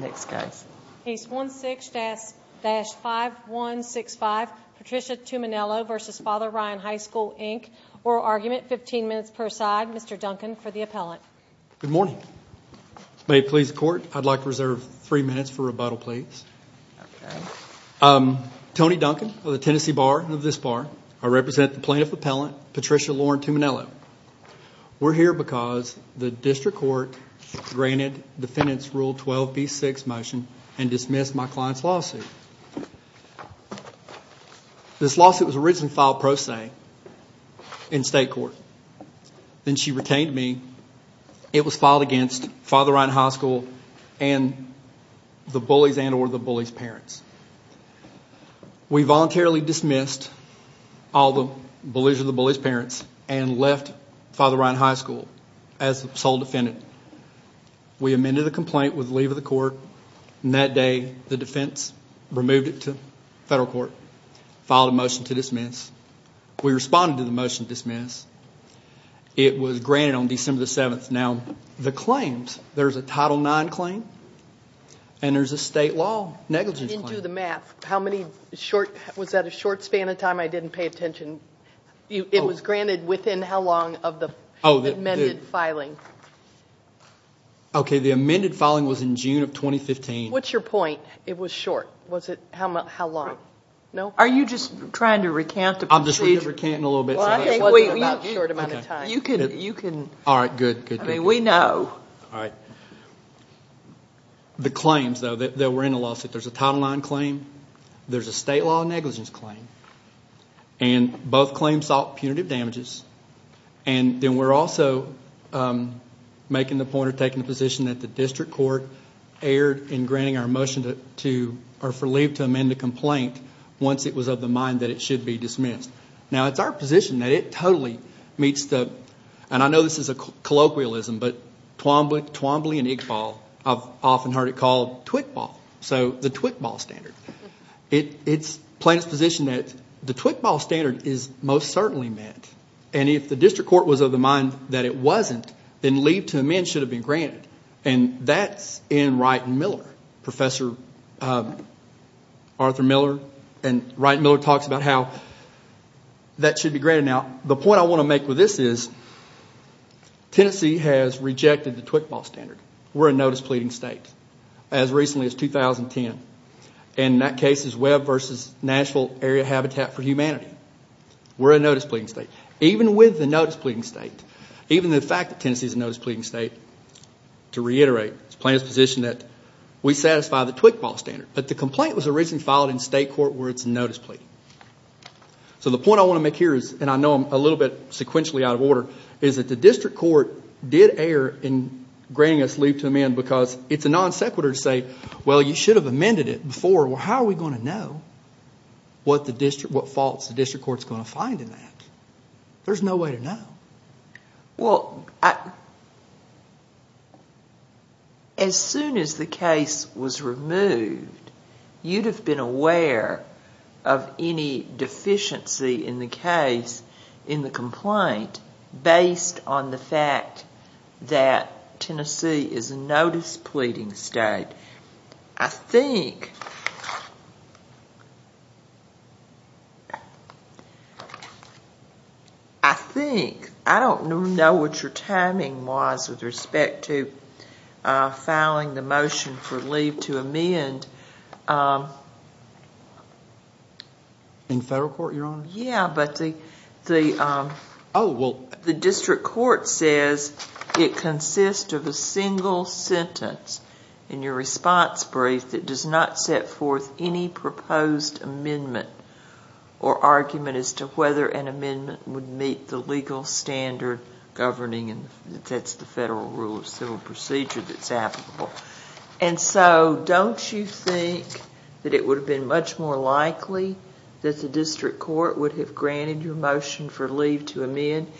Case 16-5165, Patricia Tumminello v. Father Ryan High School Inc. Oral argument, 15 minutes per side. Mr. Duncan for the appellant. Good morning. May it please the court, I'd like to reserve three minutes for rebuttal, please. Tony Duncan of the Tennessee Bar, of this bar. I represent the plaintiff appellant, Patricia Lauren Tumminello. We're here because the district court granted defendant's Rule 12b6 motion and dismissed my client's lawsuit. This lawsuit was originally filed pro se in state court. Then she retained me. It was filed against Father Ryan High School and the bullies and or the bullies' parents. We voluntarily dismissed all the bullies and the bullies' parents and left Father Ryan High School as sole defendant. We amended the complaint with leave of the court. That day, the defense removed it to federal court, filed a motion to dismiss. We responded to the motion to dismiss. It was granted on December 7th. Now, the claims, there's a Title IX claim and there's a state law negligence claim. You didn't do the math. How many short, was that a short span of time I didn't pay attention? It was granted within how long of the amended filing? Okay, the amended filing was in June of 2015. What's your point? It was short. Was it how long? No? Are you just trying to recant the procedure? I'm just trying to recant a little bit. It wasn't about you. You can. All right, good. I mean, we know. All right. The claims, though, that were in the lawsuit, there's a Title IX claim, there's a state law negligence claim, and both claims sought punitive damages. Then we're also making the point or taking the position that the district court erred in granting our motion to, or for leave to amend the complaint once it was of the mind that it should be dismissed. Now, it's our position that it totally meets the, and I know this is a colloquialism, but Twombly and Iqbal, I've often heard it called TWICBAL, so the TWICBAL standard. It's Plano's position that the TWICBAL standard is most certainly met, and if the district court was of the mind that it wasn't, then leave to amend should have been granted, and that's in Wright and Miller. Professor Arthur Miller and Wright and Miller talks about how that should be granted. Now, the point I want to make with this is Tennessee has rejected the TWICBAL standard. We're a notice pleading state. As recently as 2010, and that case is Webb versus Nashville Area Habitat for Humanity. We're a notice pleading state. Even with the notice pleading state, even the fact that Tennessee is a notice pleading state, to reiterate, it's Plano's position that we satisfy the TWICBAL standard, but the complaint was originally filed in state court where it's a notice pleading. So the point I want to make here is, and I know I'm a little bit sequentially out of order, is that the district court did err in granting us leave to amend because it's a non sequitur to say, well, you should have amended it before. Well, how are we going to know what faults the district court's going to find in that? There's no way to know. Well, as soon as the case was removed, you'd have been aware of any deficiency in the case, in the complaint, based on the fact that Tennessee is a notice pleading state. I think... I think... I don't know what your timing was with respect to filing the motion for leave to amend. In federal court, Your Honor? Yeah, but the district court says it consists of a single sentence. In your response brief, it does not set forth any proposed amendment or argument as to whether an amendment would meet the legal standard governing, and that's the federal rule of civil procedure that's applicable. And so don't you think that it would have been much more likely that the district court would have granted your motion for leave to amend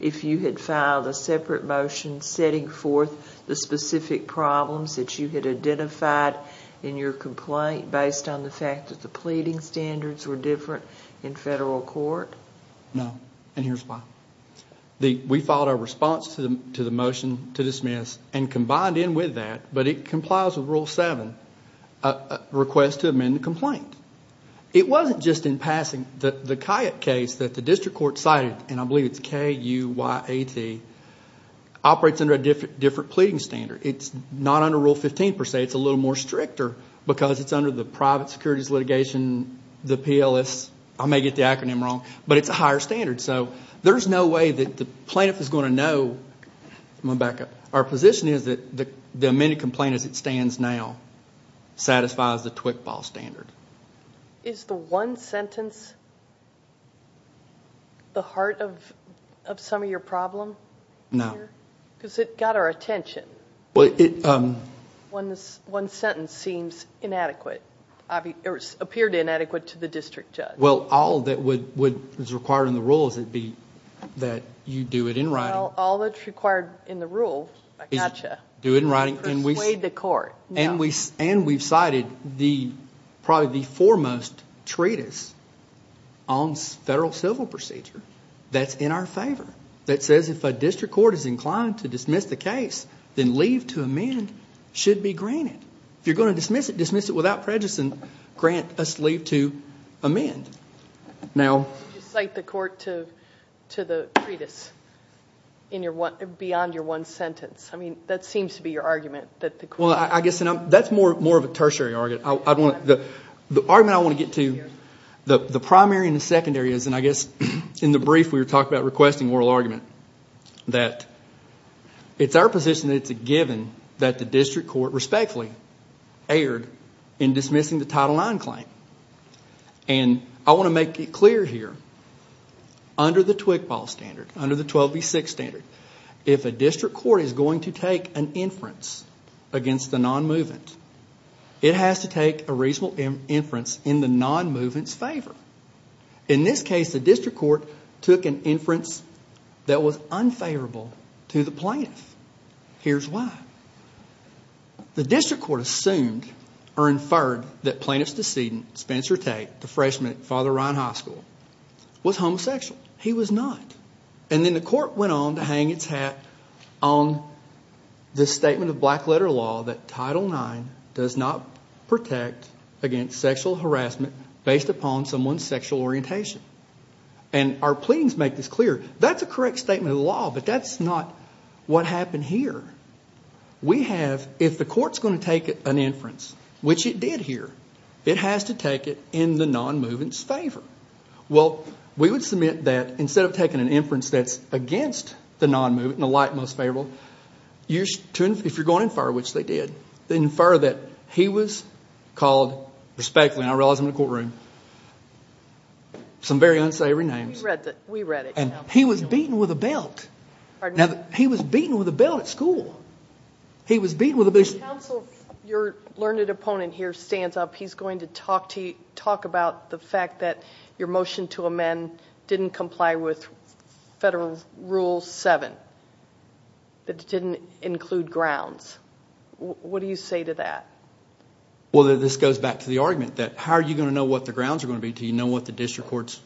if you had filed a separate motion setting forth the specific problems that you had identified in your complaint based on the fact that the pleading standards were different in federal court? No, and here's why. We filed our response to the motion to dismiss and combined in with that, but it complies with Rule 7, a request to amend the complaint. It wasn't just in passing. The Cuyat case that the district court cited, and I believe it's K-U-Y-A-T, operates under a different pleading standard. It's not under Rule 15 per se. It's a little more stricter because it's under the private securities litigation, the PLS. I may get the acronym wrong, but it's a higher standard, so there's no way that the plaintiff is going to know... I'm going to back up. Our position is that the amended complaint as it stands now satisfies the TWCBA standard. Is the one sentence the heart of some of your problem? No. Because it got our attention. One sentence seems inadequate, or appeared inadequate to the district judge. Well, all that is required in the rule is that you do it in writing. Well, all that is required in the rule, I got you. Do it in writing. Persuade the court. And we've cited probably the foremost treatise on federal civil procedure that's in our favor that says if a district court is inclined to dismiss the case, then leave to amend should be granted. If you're going to dismiss it, dismiss it without prejudice and grant us leave to amend. Would you cite the court to the treatise beyond your one sentence? I mean, that seems to be your argument that the court... Well, I guess that's more of a tertiary argument. The argument I want to get to, the primary and the secondary is, and I guess in the brief we were talking about requesting oral argument, that it's our position that it's a given that the district court respectfully erred in dismissing the Title IX claim. And I want to make it clear here, under the TWCPL standard, under the 12B6 standard, if a district court is going to take an inference against the non-movement, it has to take a reasonable inference in the non-movement's favor. In this case, the district court took an inference that was unfavorable to the plaintiff. Here's why. The district court assumed or inferred that plaintiff's decedent, Spencer Tate, the freshman at Father Ryan High School, was homosexual. He was not. And then the court went on to hang its hat on the statement of black letter law that Title IX does not protect against sexual harassment based upon someone's sexual orientation. And our pleadings make this clear. That's a correct statement of the law, but that's not what happened here. We have, if the court's going to take an inference, which it did here, it has to take it in the non-movement's favor. Well, we would submit that instead of taking an inference that's against the non-movement and the like most favorable, if you're going to infer, which they did, infer that he was called respectfully, and I realize I'm in a courtroom, some very unsavory names. And he was beaten with a belt. Now, he was beaten with a belt at school. He was beaten with a belt. Counsel, your learned opponent here stands up. He's going to talk about the fact that your motion to amend didn't comply with Federal Rule 7. It didn't include grounds. What do you say to that? Well, this goes back to the argument that how are you going to know what the grounds are going to be until you know what the district court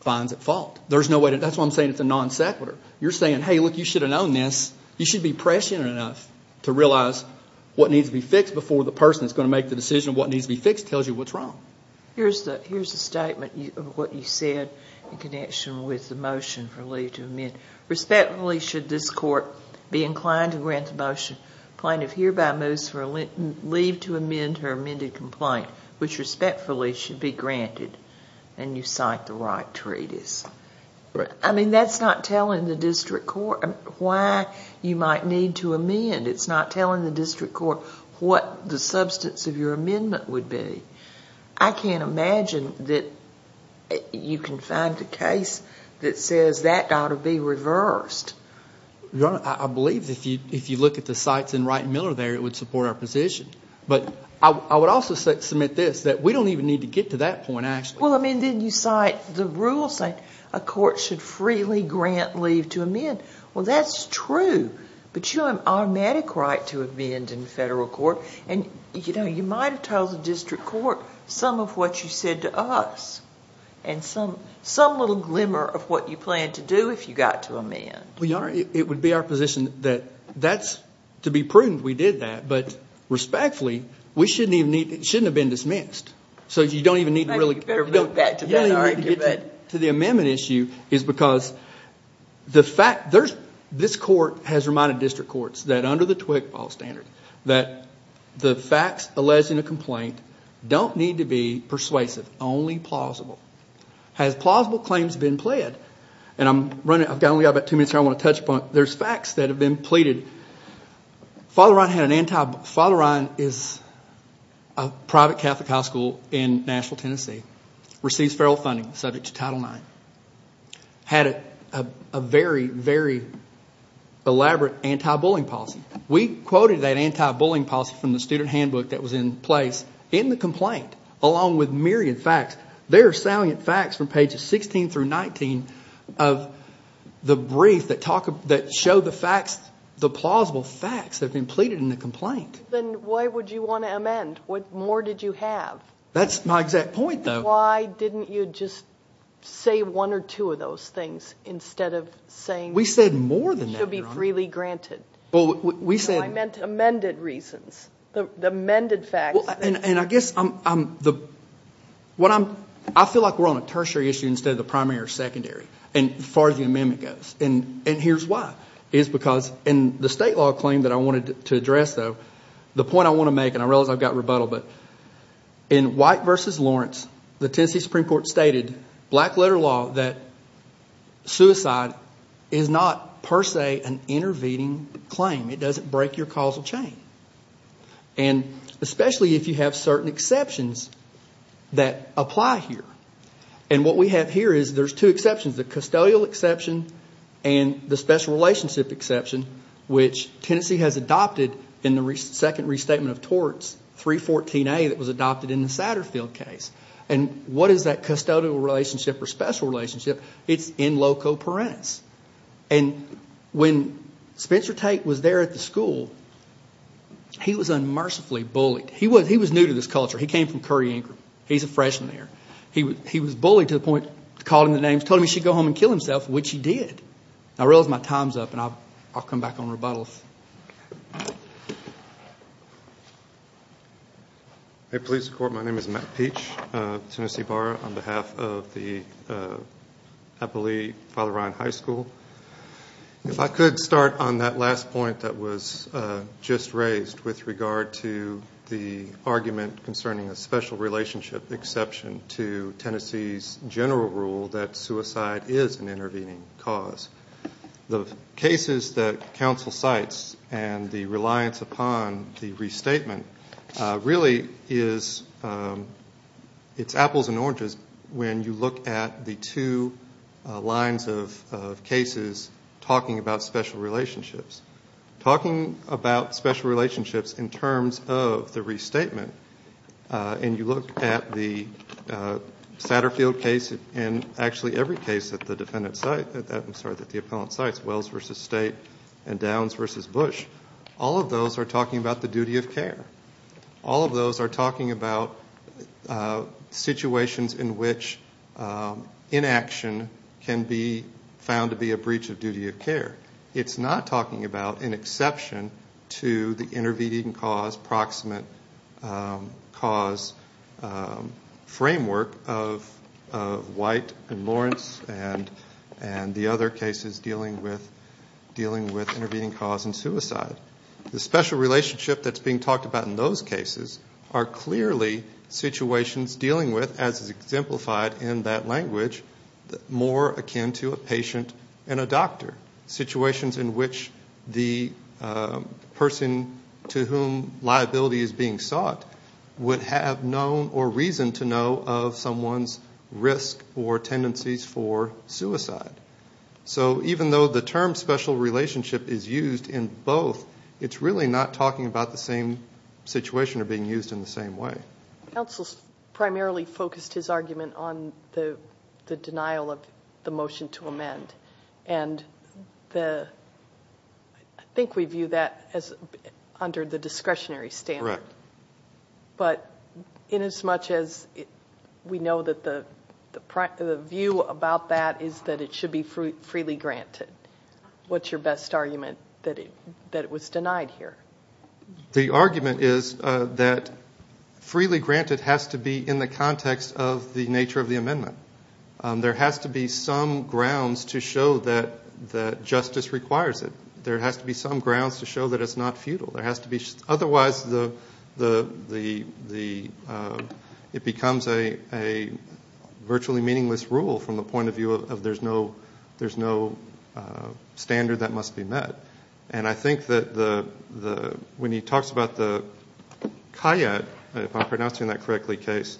finds at fault? That's why I'm saying it's a non-sequitur. You're saying, hey, look, you should have known this. You should be prescient enough to realize what needs to be fixed before the person that's going to make the decision of what needs to be fixed tells you what's wrong. Here's a statement of what you said in connection with the motion for leave to amend. Respectfully should this court be inclined to grant the motion plaintiff hereby moves for leave to amend her amended complaint, which respectfully should be granted, and you cite the right treatise. I mean, that's not telling the district court why you might need to amend. It's not telling the district court what the substance of your amendment would be. I can't imagine that you can find a case that says that ought to be reversed. Your Honor, I believe if you look at the cites in Wright and Miller there, it would support our position. But I would also submit this, that we don't even need to get to that point, actually. Well, I mean, then you cite the rules saying a court should freely grant leave to amend. Well, that's true, but you have an automatic right to amend in federal court, and you might have told the district court some of what you said to us and some little glimmer of what you plan to do if you got to amend. Well, Your Honor, it would be our position that that's to be prudent we did that, but respectfully, it shouldn't have been dismissed. So you don't even need to really get to the amendment issue, is because this court has reminded district courts that under the TWIC law standard, that the facts alleged in a complaint don't need to be persuasive, only plausible. Has plausible claims been pled? I've only got about two minutes here I want to touch upon. There's facts that have been pleaded. Father Ryan is a private Catholic high school in Nashville, Tennessee, receives federal funding subject to Title IX, had a very, very elaborate anti-bullying policy. We quoted that anti-bullying policy from the student handbook that was in place in the complaint, along with myriad facts. There are salient facts from pages 16 through 19 of the brief that show the facts, the plausible facts that have been pleaded in the complaint. Then why would you want to amend? What more did you have? That's my exact point, though. Why didn't you just say one or two of those things instead of saying to be freely granted? We said more than that, Your Honor. I meant amended reasons, amended facts. I feel like we're on a tertiary issue instead of the primary or secondary as far as the amendment goes. Here's why. It's because in the state law claim that I wanted to address, though, the point I want to make, and I realize I've got rebuttal, but in White v. Lawrence, the Tennessee Supreme Court stated, black-letter law, that suicide is not per se an intervening claim. It doesn't break your causal chain. Especially if you have certain exceptions that apply here. What we have here is there's two exceptions, the custodial exception and the special relationship exception, which Tennessee has adopted in the second restatement of torts, 314A, that was adopted in the Satterfield case. What is that custodial relationship or special relationship? It's in loco parens. When Spencer Tate was there at the school, he was unmercifully bullied. He was new to this culture. He came from Curry, Ingram. He's a freshman there. He was bullied to the point, called him by the names, told him he should go home and kill himself, which he did. I realize my time's up, and I'll come back on rebuttals. Hey, police, court. My name is Matt Peach, Tennessee Bar, on behalf of the Appalachian Father Ryan High School. If I could start on that last point that was just raised with regard to the argument concerning a special relationship exception to Tennessee's general rule that suicide is an intervening cause. The cases that counsel cites and the reliance upon the restatement really is apples and oranges when you look at the two lines of cases talking about special relationships. Talking about special relationships in terms of the restatement, and you look at the Satterfield case and actually every case that the appellant cites, Wells v. State and Downs v. Bush, all of those are talking about the duty of care. All of those are talking about situations in which inaction can be found to be a breach of duty of care. It's not talking about an exception to the intervening cause, and the other cases dealing with intervening cause and suicide. The special relationship that's being talked about in those cases are clearly situations dealing with, as is exemplified in that language, more akin to a patient and a doctor. Situations in which the person to whom liability is being sought would have known or reason to know of someone's risk or tendencies for suicide. So even though the term special relationship is used in both, it's really not talking about the same situation or being used in the same way. Counsel primarily focused his argument on the denial of the motion to amend, and I think we view that under the discretionary standard. Correct. But inasmuch as we know that the view about that is that it should be freely granted, what's your best argument that it was denied here? The argument is that freely granted has to be in the context of the nature of the amendment. There has to be some grounds to show that justice requires it. There has to be some grounds to show that it's not futile. Otherwise it becomes a virtually meaningless rule from the point of view of there's no standard that must be met. And I think that when he talks about the Kayyad, if I'm pronouncing that correctly, case,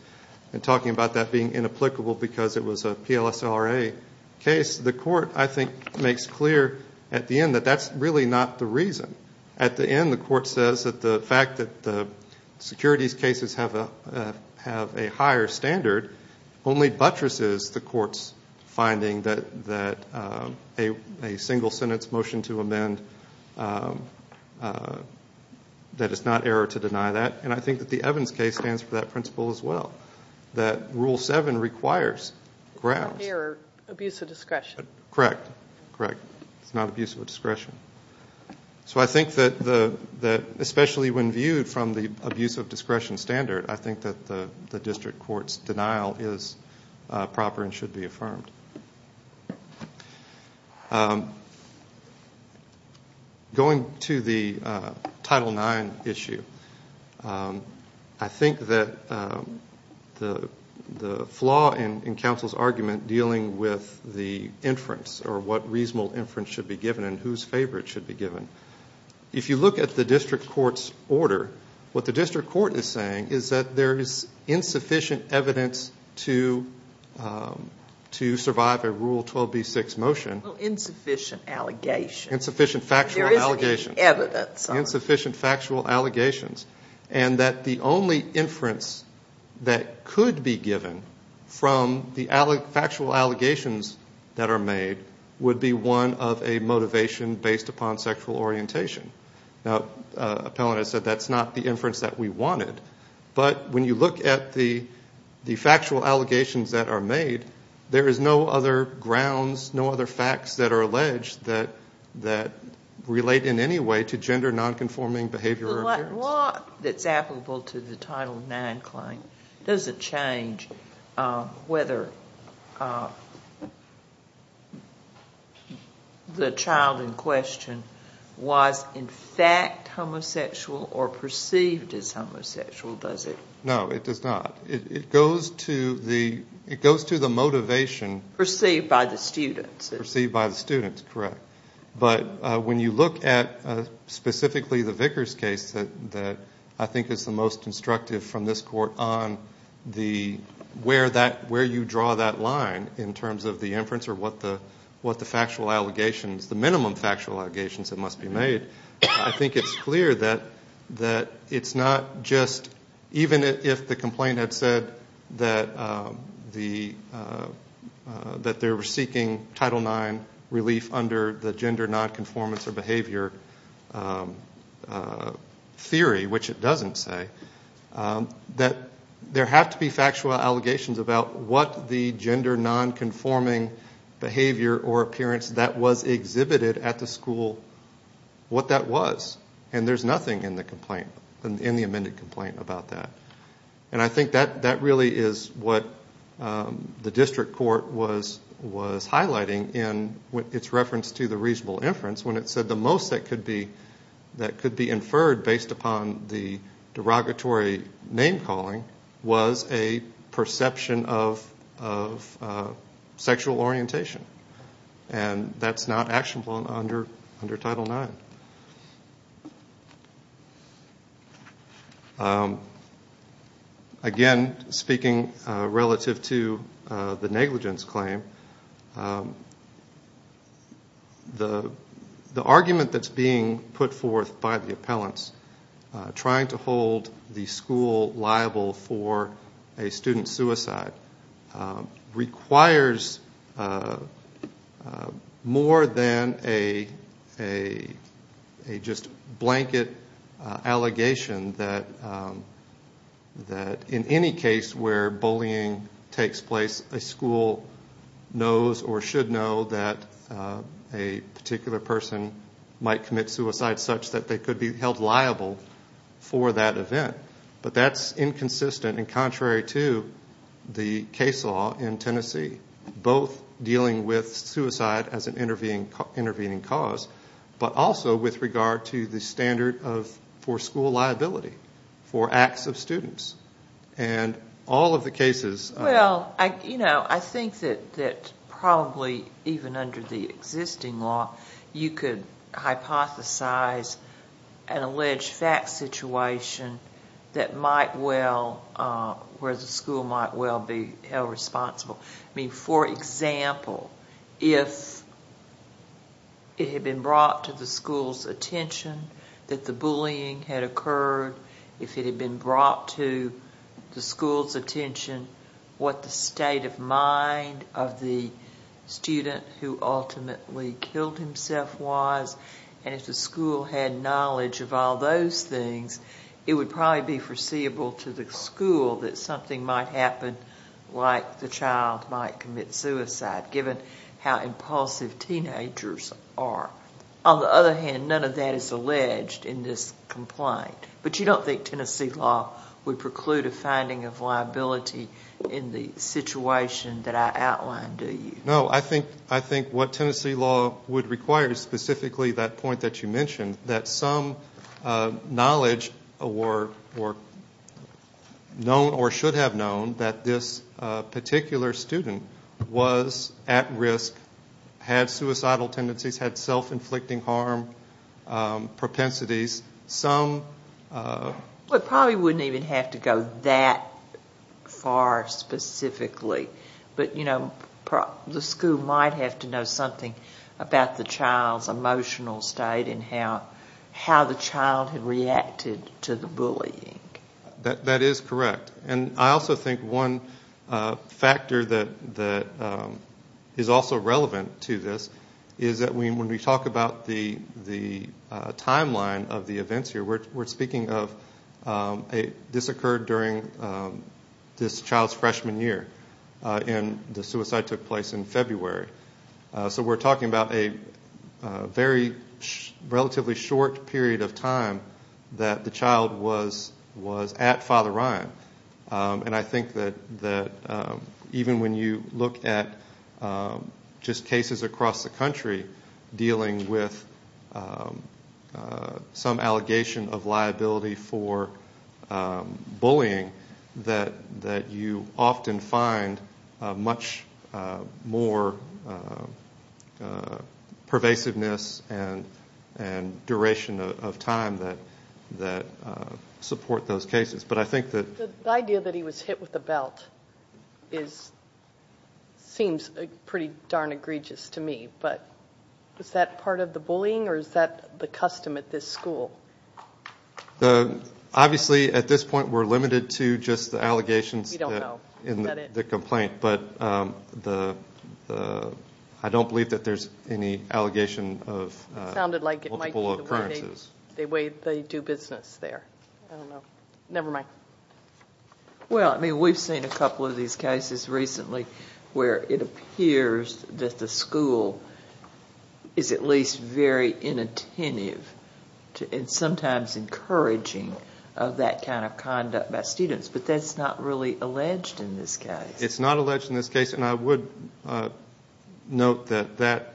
and talking about that being inapplicable because it was a PLSRA case, the court, I think, makes clear at the end that that's really not the reason. At the end the court says that the fact that the securities cases have a higher standard only buttresses the court's finding that a single-sentence motion to amend, that it's not error to deny that. And I think that the Evans case stands for that principle as well, that Rule 7 requires grounds. Error, abuse of discretion. Correct, correct. It's not abuse of discretion. So I think that especially when viewed from the abuse of discretion standard, I think that the district court's denial is proper and should be affirmed. Going to the Title IX issue, I think that the flaw in counsel's argument dealing with the inference or what reasonable inference should be given and whose favor it should be given. If you look at the district court's order, what the district court is saying is that there is insufficient evidence to survive a Rule 12b-6 motion. Insufficient allegations. Insufficient factual allegations. There isn't any evidence. Insufficient factual allegations. And that the only inference that could be given from the factual allegations that are made would be one of a motivation based upon sexual orientation. Now, Appellant has said that's not the inference that we wanted. But when you look at the factual allegations that are made, there is no other grounds, no other facts that are alleged that relate in any way to gender nonconforming behavior or appearance. The law that's applicable to the Title IX claim, does it change whether the child in question was in fact homosexual or perceived as homosexual, does it? No, it does not. It goes to the motivation. Perceived by the students. Perceived by the students, correct. But when you look at specifically the Vickers case that I think is the most instructive from this court on where you draw that line in terms of the inference or what the factual allegations, the minimum factual allegations that must be made, I think it's clear that it's not just even if the complaint had said that they were seeking Title IX relief under the gender nonconformance or behavior theory, which it doesn't say, that there have to be factual allegations about what the gender nonconforming behavior or appearance that was exhibited at the school, what that was. And there's nothing in the complaint, in the amended complaint about that. And I think that really is what the district court was highlighting in its reference to the reasonable inference when it said the most that could be inferred based upon the derogatory name calling was a perception of sexual orientation. And that's not actionable under Title IX. Again, speaking relative to the negligence claim, the argument that's being put forth by the appellants trying to hold the school liable for a student's suicide requires more than a just blanket allegation that in any case where bullying takes place, a school knows or should know that a particular person might commit suicide such that they could be held liable for that event. But that's inconsistent and contrary to the case law in Tennessee, both dealing with suicide as an intervening cause, but also with regard to the standard for school liability for acts of students. And all of the cases... Well, I think that probably even under the existing law, you could hypothesize an alleged fact situation where the school might well be held responsible. For example, if it had been brought to the school's attention that the bullying had occurred, if it had been brought to the school's attention what the state of mind of the student who ultimately killed himself was, and if the school had knowledge of all those things, it would probably be foreseeable to the school that something might happen like the child might commit suicide given how impulsive teenagers are. On the other hand, none of that is alleged in this complaint. But you don't think Tennessee law would preclude a finding of liability in the situation that I outlined, do you? No, I think what Tennessee law would require is specifically that point that you mentioned, that some knowledge or should have known that this particular student was at risk, had suicidal tendencies, had self-inflicting harm propensities. It probably wouldn't even have to go that far specifically, but the school might have to know something about the child's emotional state and how the child had reacted to the bullying. That is correct. And I also think one factor that is also relevant to this is that when we talk about the timeline of the events here, we're speaking of this occurred during this child's freshman year and the suicide took place in February. So we're talking about a very relatively short period of time that the child was at Father Ryan. And I think that even when you look at just cases across the country dealing with some allegation of liability for bullying, that you often find much more pervasiveness and duration of time that support those cases. The idea that he was hit with a belt seems pretty darn egregious to me, but is that part of the bullying or is that the custom at this school? Obviously at this point we're limited to just the allegations in the complaint, but I don't believe that there's any allegation of multiple occurrences. It sounded like it might be the way they do business there. I don't know. Never mind. Well, we've seen a couple of these cases recently where it appears that the school is at least very inattentive and sometimes encouraging of that kind of conduct by students, but that's not really alleged in this case. It's not alleged in this case, and I would note that that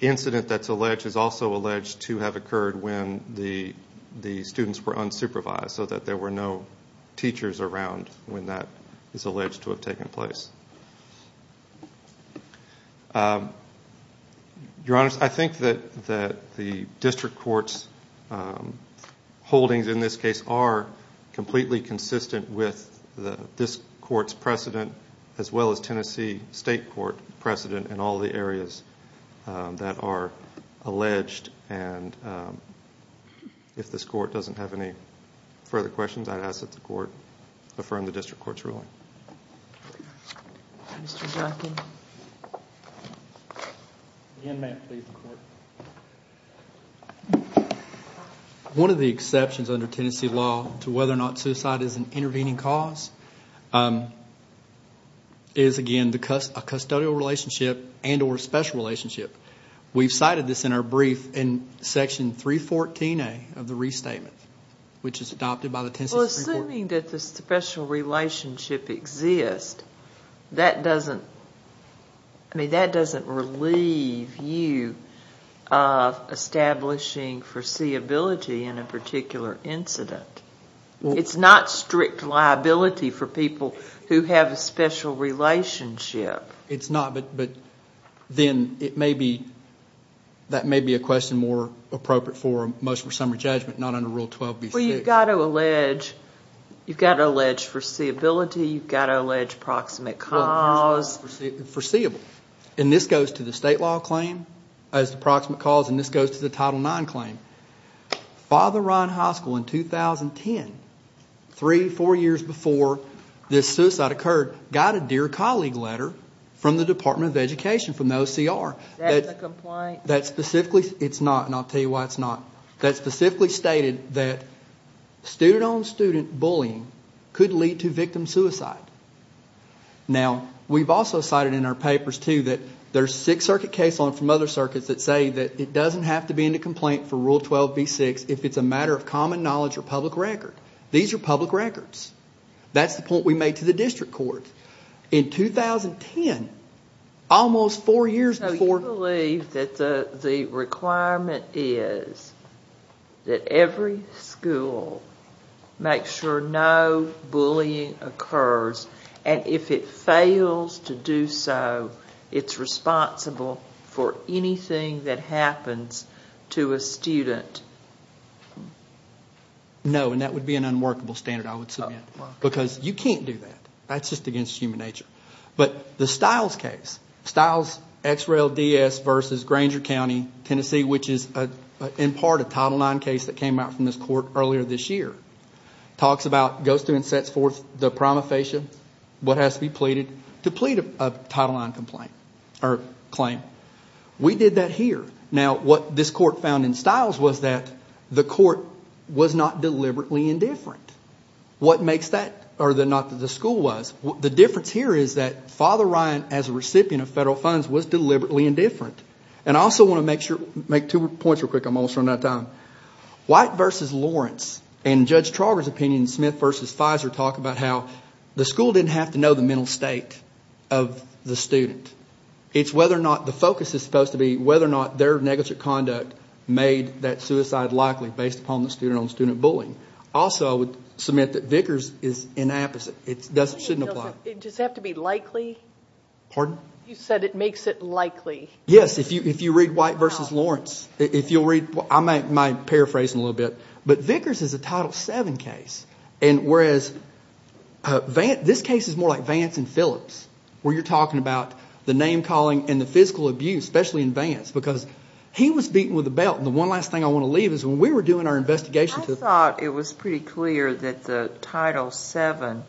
incident that's alleged is also alleged to have occurred when the students were unsupervised so that there were no teachers around when that is alleged to have taken place. Your Honor, I think that the district court's holdings in this case are completely consistent with this court's precedent as well as Tennessee State Court precedent in all the areas that are alleged. If this court doesn't have any further questions, I'd ask that the court affirm the district court's ruling. Mr. Duncan. Again, may it please the Court. One of the exceptions under Tennessee law to whether or not suicide is an intervening cause is, again, a custodial relationship and or special relationship. We've cited this in our brief in Section 314A of the Restatement, which is adopted by the Tennessee State Court. Assuming that the special relationship exists, that doesn't relieve you of establishing foreseeability in a particular incident. It's not strict liability for people who have a special relationship. It's not, but then that may be a question more appropriate for most of a summary judgment, not under Rule 12B6. Well, you've got to allege foreseeability. You've got to allege proximate cause. Foreseeable. And this goes to the state law claim as the proximate cause, and this goes to the Title IX claim. Father Ryan High School in 2010, three, four years before this suicide occurred, got a Dear Colleague letter from the Department of Education, from the OCR. Is that the complaint? It's not, and I'll tell you why it's not. That specifically stated that student-on-student bullying could lead to victim suicide. Now, we've also cited in our papers, too, that there's a Sixth Circuit case from other circuits that say that it doesn't have to be in a complaint for Rule 12B6 if it's a matter of common knowledge or public record. These are public records. That's the point we made to the district courts. In 2010, almost four years before— So you believe that the requirement is that every school make sure no bullying occurs, and if it fails to do so, it's responsible for anything that happens to a student? No, and that would be an unworkable standard, I would submit, because you can't do that. That's just against human nature. But the Stiles case, Stiles X-Rail DS versus Granger County, Tennessee, which is in part a Title IX case that came out from this court earlier this year, talks about, goes through and sets forth the prima facie, what has to be pleaded to plead a Title IX complaint or claim. We did that here. Now, what this court found in Stiles was that the court was not deliberately indifferent. What makes that—or not that the school was. The difference here is that Father Ryan, as a recipient of federal funds, was deliberately indifferent. And I also want to make two points real quick. I'm almost running out of time. White versus Lawrence, and Judge Trauger's opinion, Smith versus Fizer, talk about how the school didn't have to know the mental state of the student. It's whether or not the focus is supposed to be whether or not their negligent conduct made that suicide likely based upon the student-on-student bullying. Also, I would submit that Vickers is inapposite. It shouldn't apply. Does it have to be likely? Pardon? You said it makes it likely. Yes, if you read White versus Lawrence. If you'll read—I might paraphrase in a little bit. But Vickers is a Title VII case, whereas this case is more like Vance and Phillips, where you're talking about the name-calling and the physical abuse, especially in Vance, because he was beaten with a belt. And the one last thing I want to leave is when we were doing our investigation— I thought it was pretty clear that the Title VII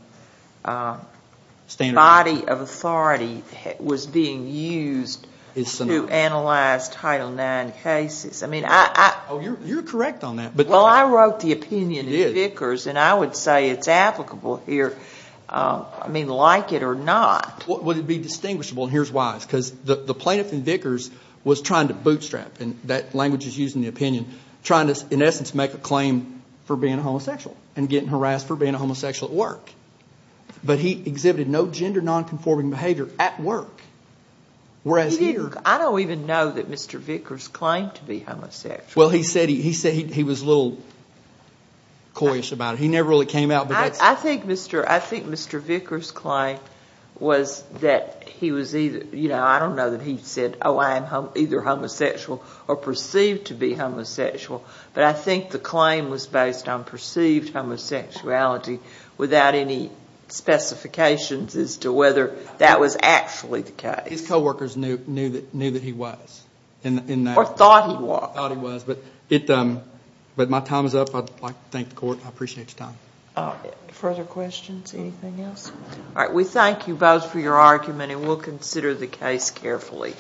body of authority was being used to analyze Title IX cases. You're correct on that. Well, I wrote the opinion in Vickers, and I would say it's applicable here, like it or not. Would it be distinguishable? And here's why. Because the plaintiff in Vickers was trying to bootstrap— and that language is used in the opinion— trying to, in essence, make a claim for being a homosexual and getting harassed for being a homosexual at work. But he exhibited no gender nonconforming behavior at work, whereas here— I don't even know that Mr. Vickers claimed to be homosexual. Well, he said he was a little coyish about it. He never really came out, but that's— I think Mr. Vickers' claim was that he was either— I don't know that he said, oh, I am either homosexual or perceived to be homosexual, but I think the claim was based on perceived homosexuality without any specifications as to whether that was actually the case. His co-workers knew that he was. Or thought he was. Thought he was. But my time is up. I'd like to thank the Court. I appreciate your time. Further questions? Anything else? All right. We thank you both for your argument, and we'll consider the case carefully.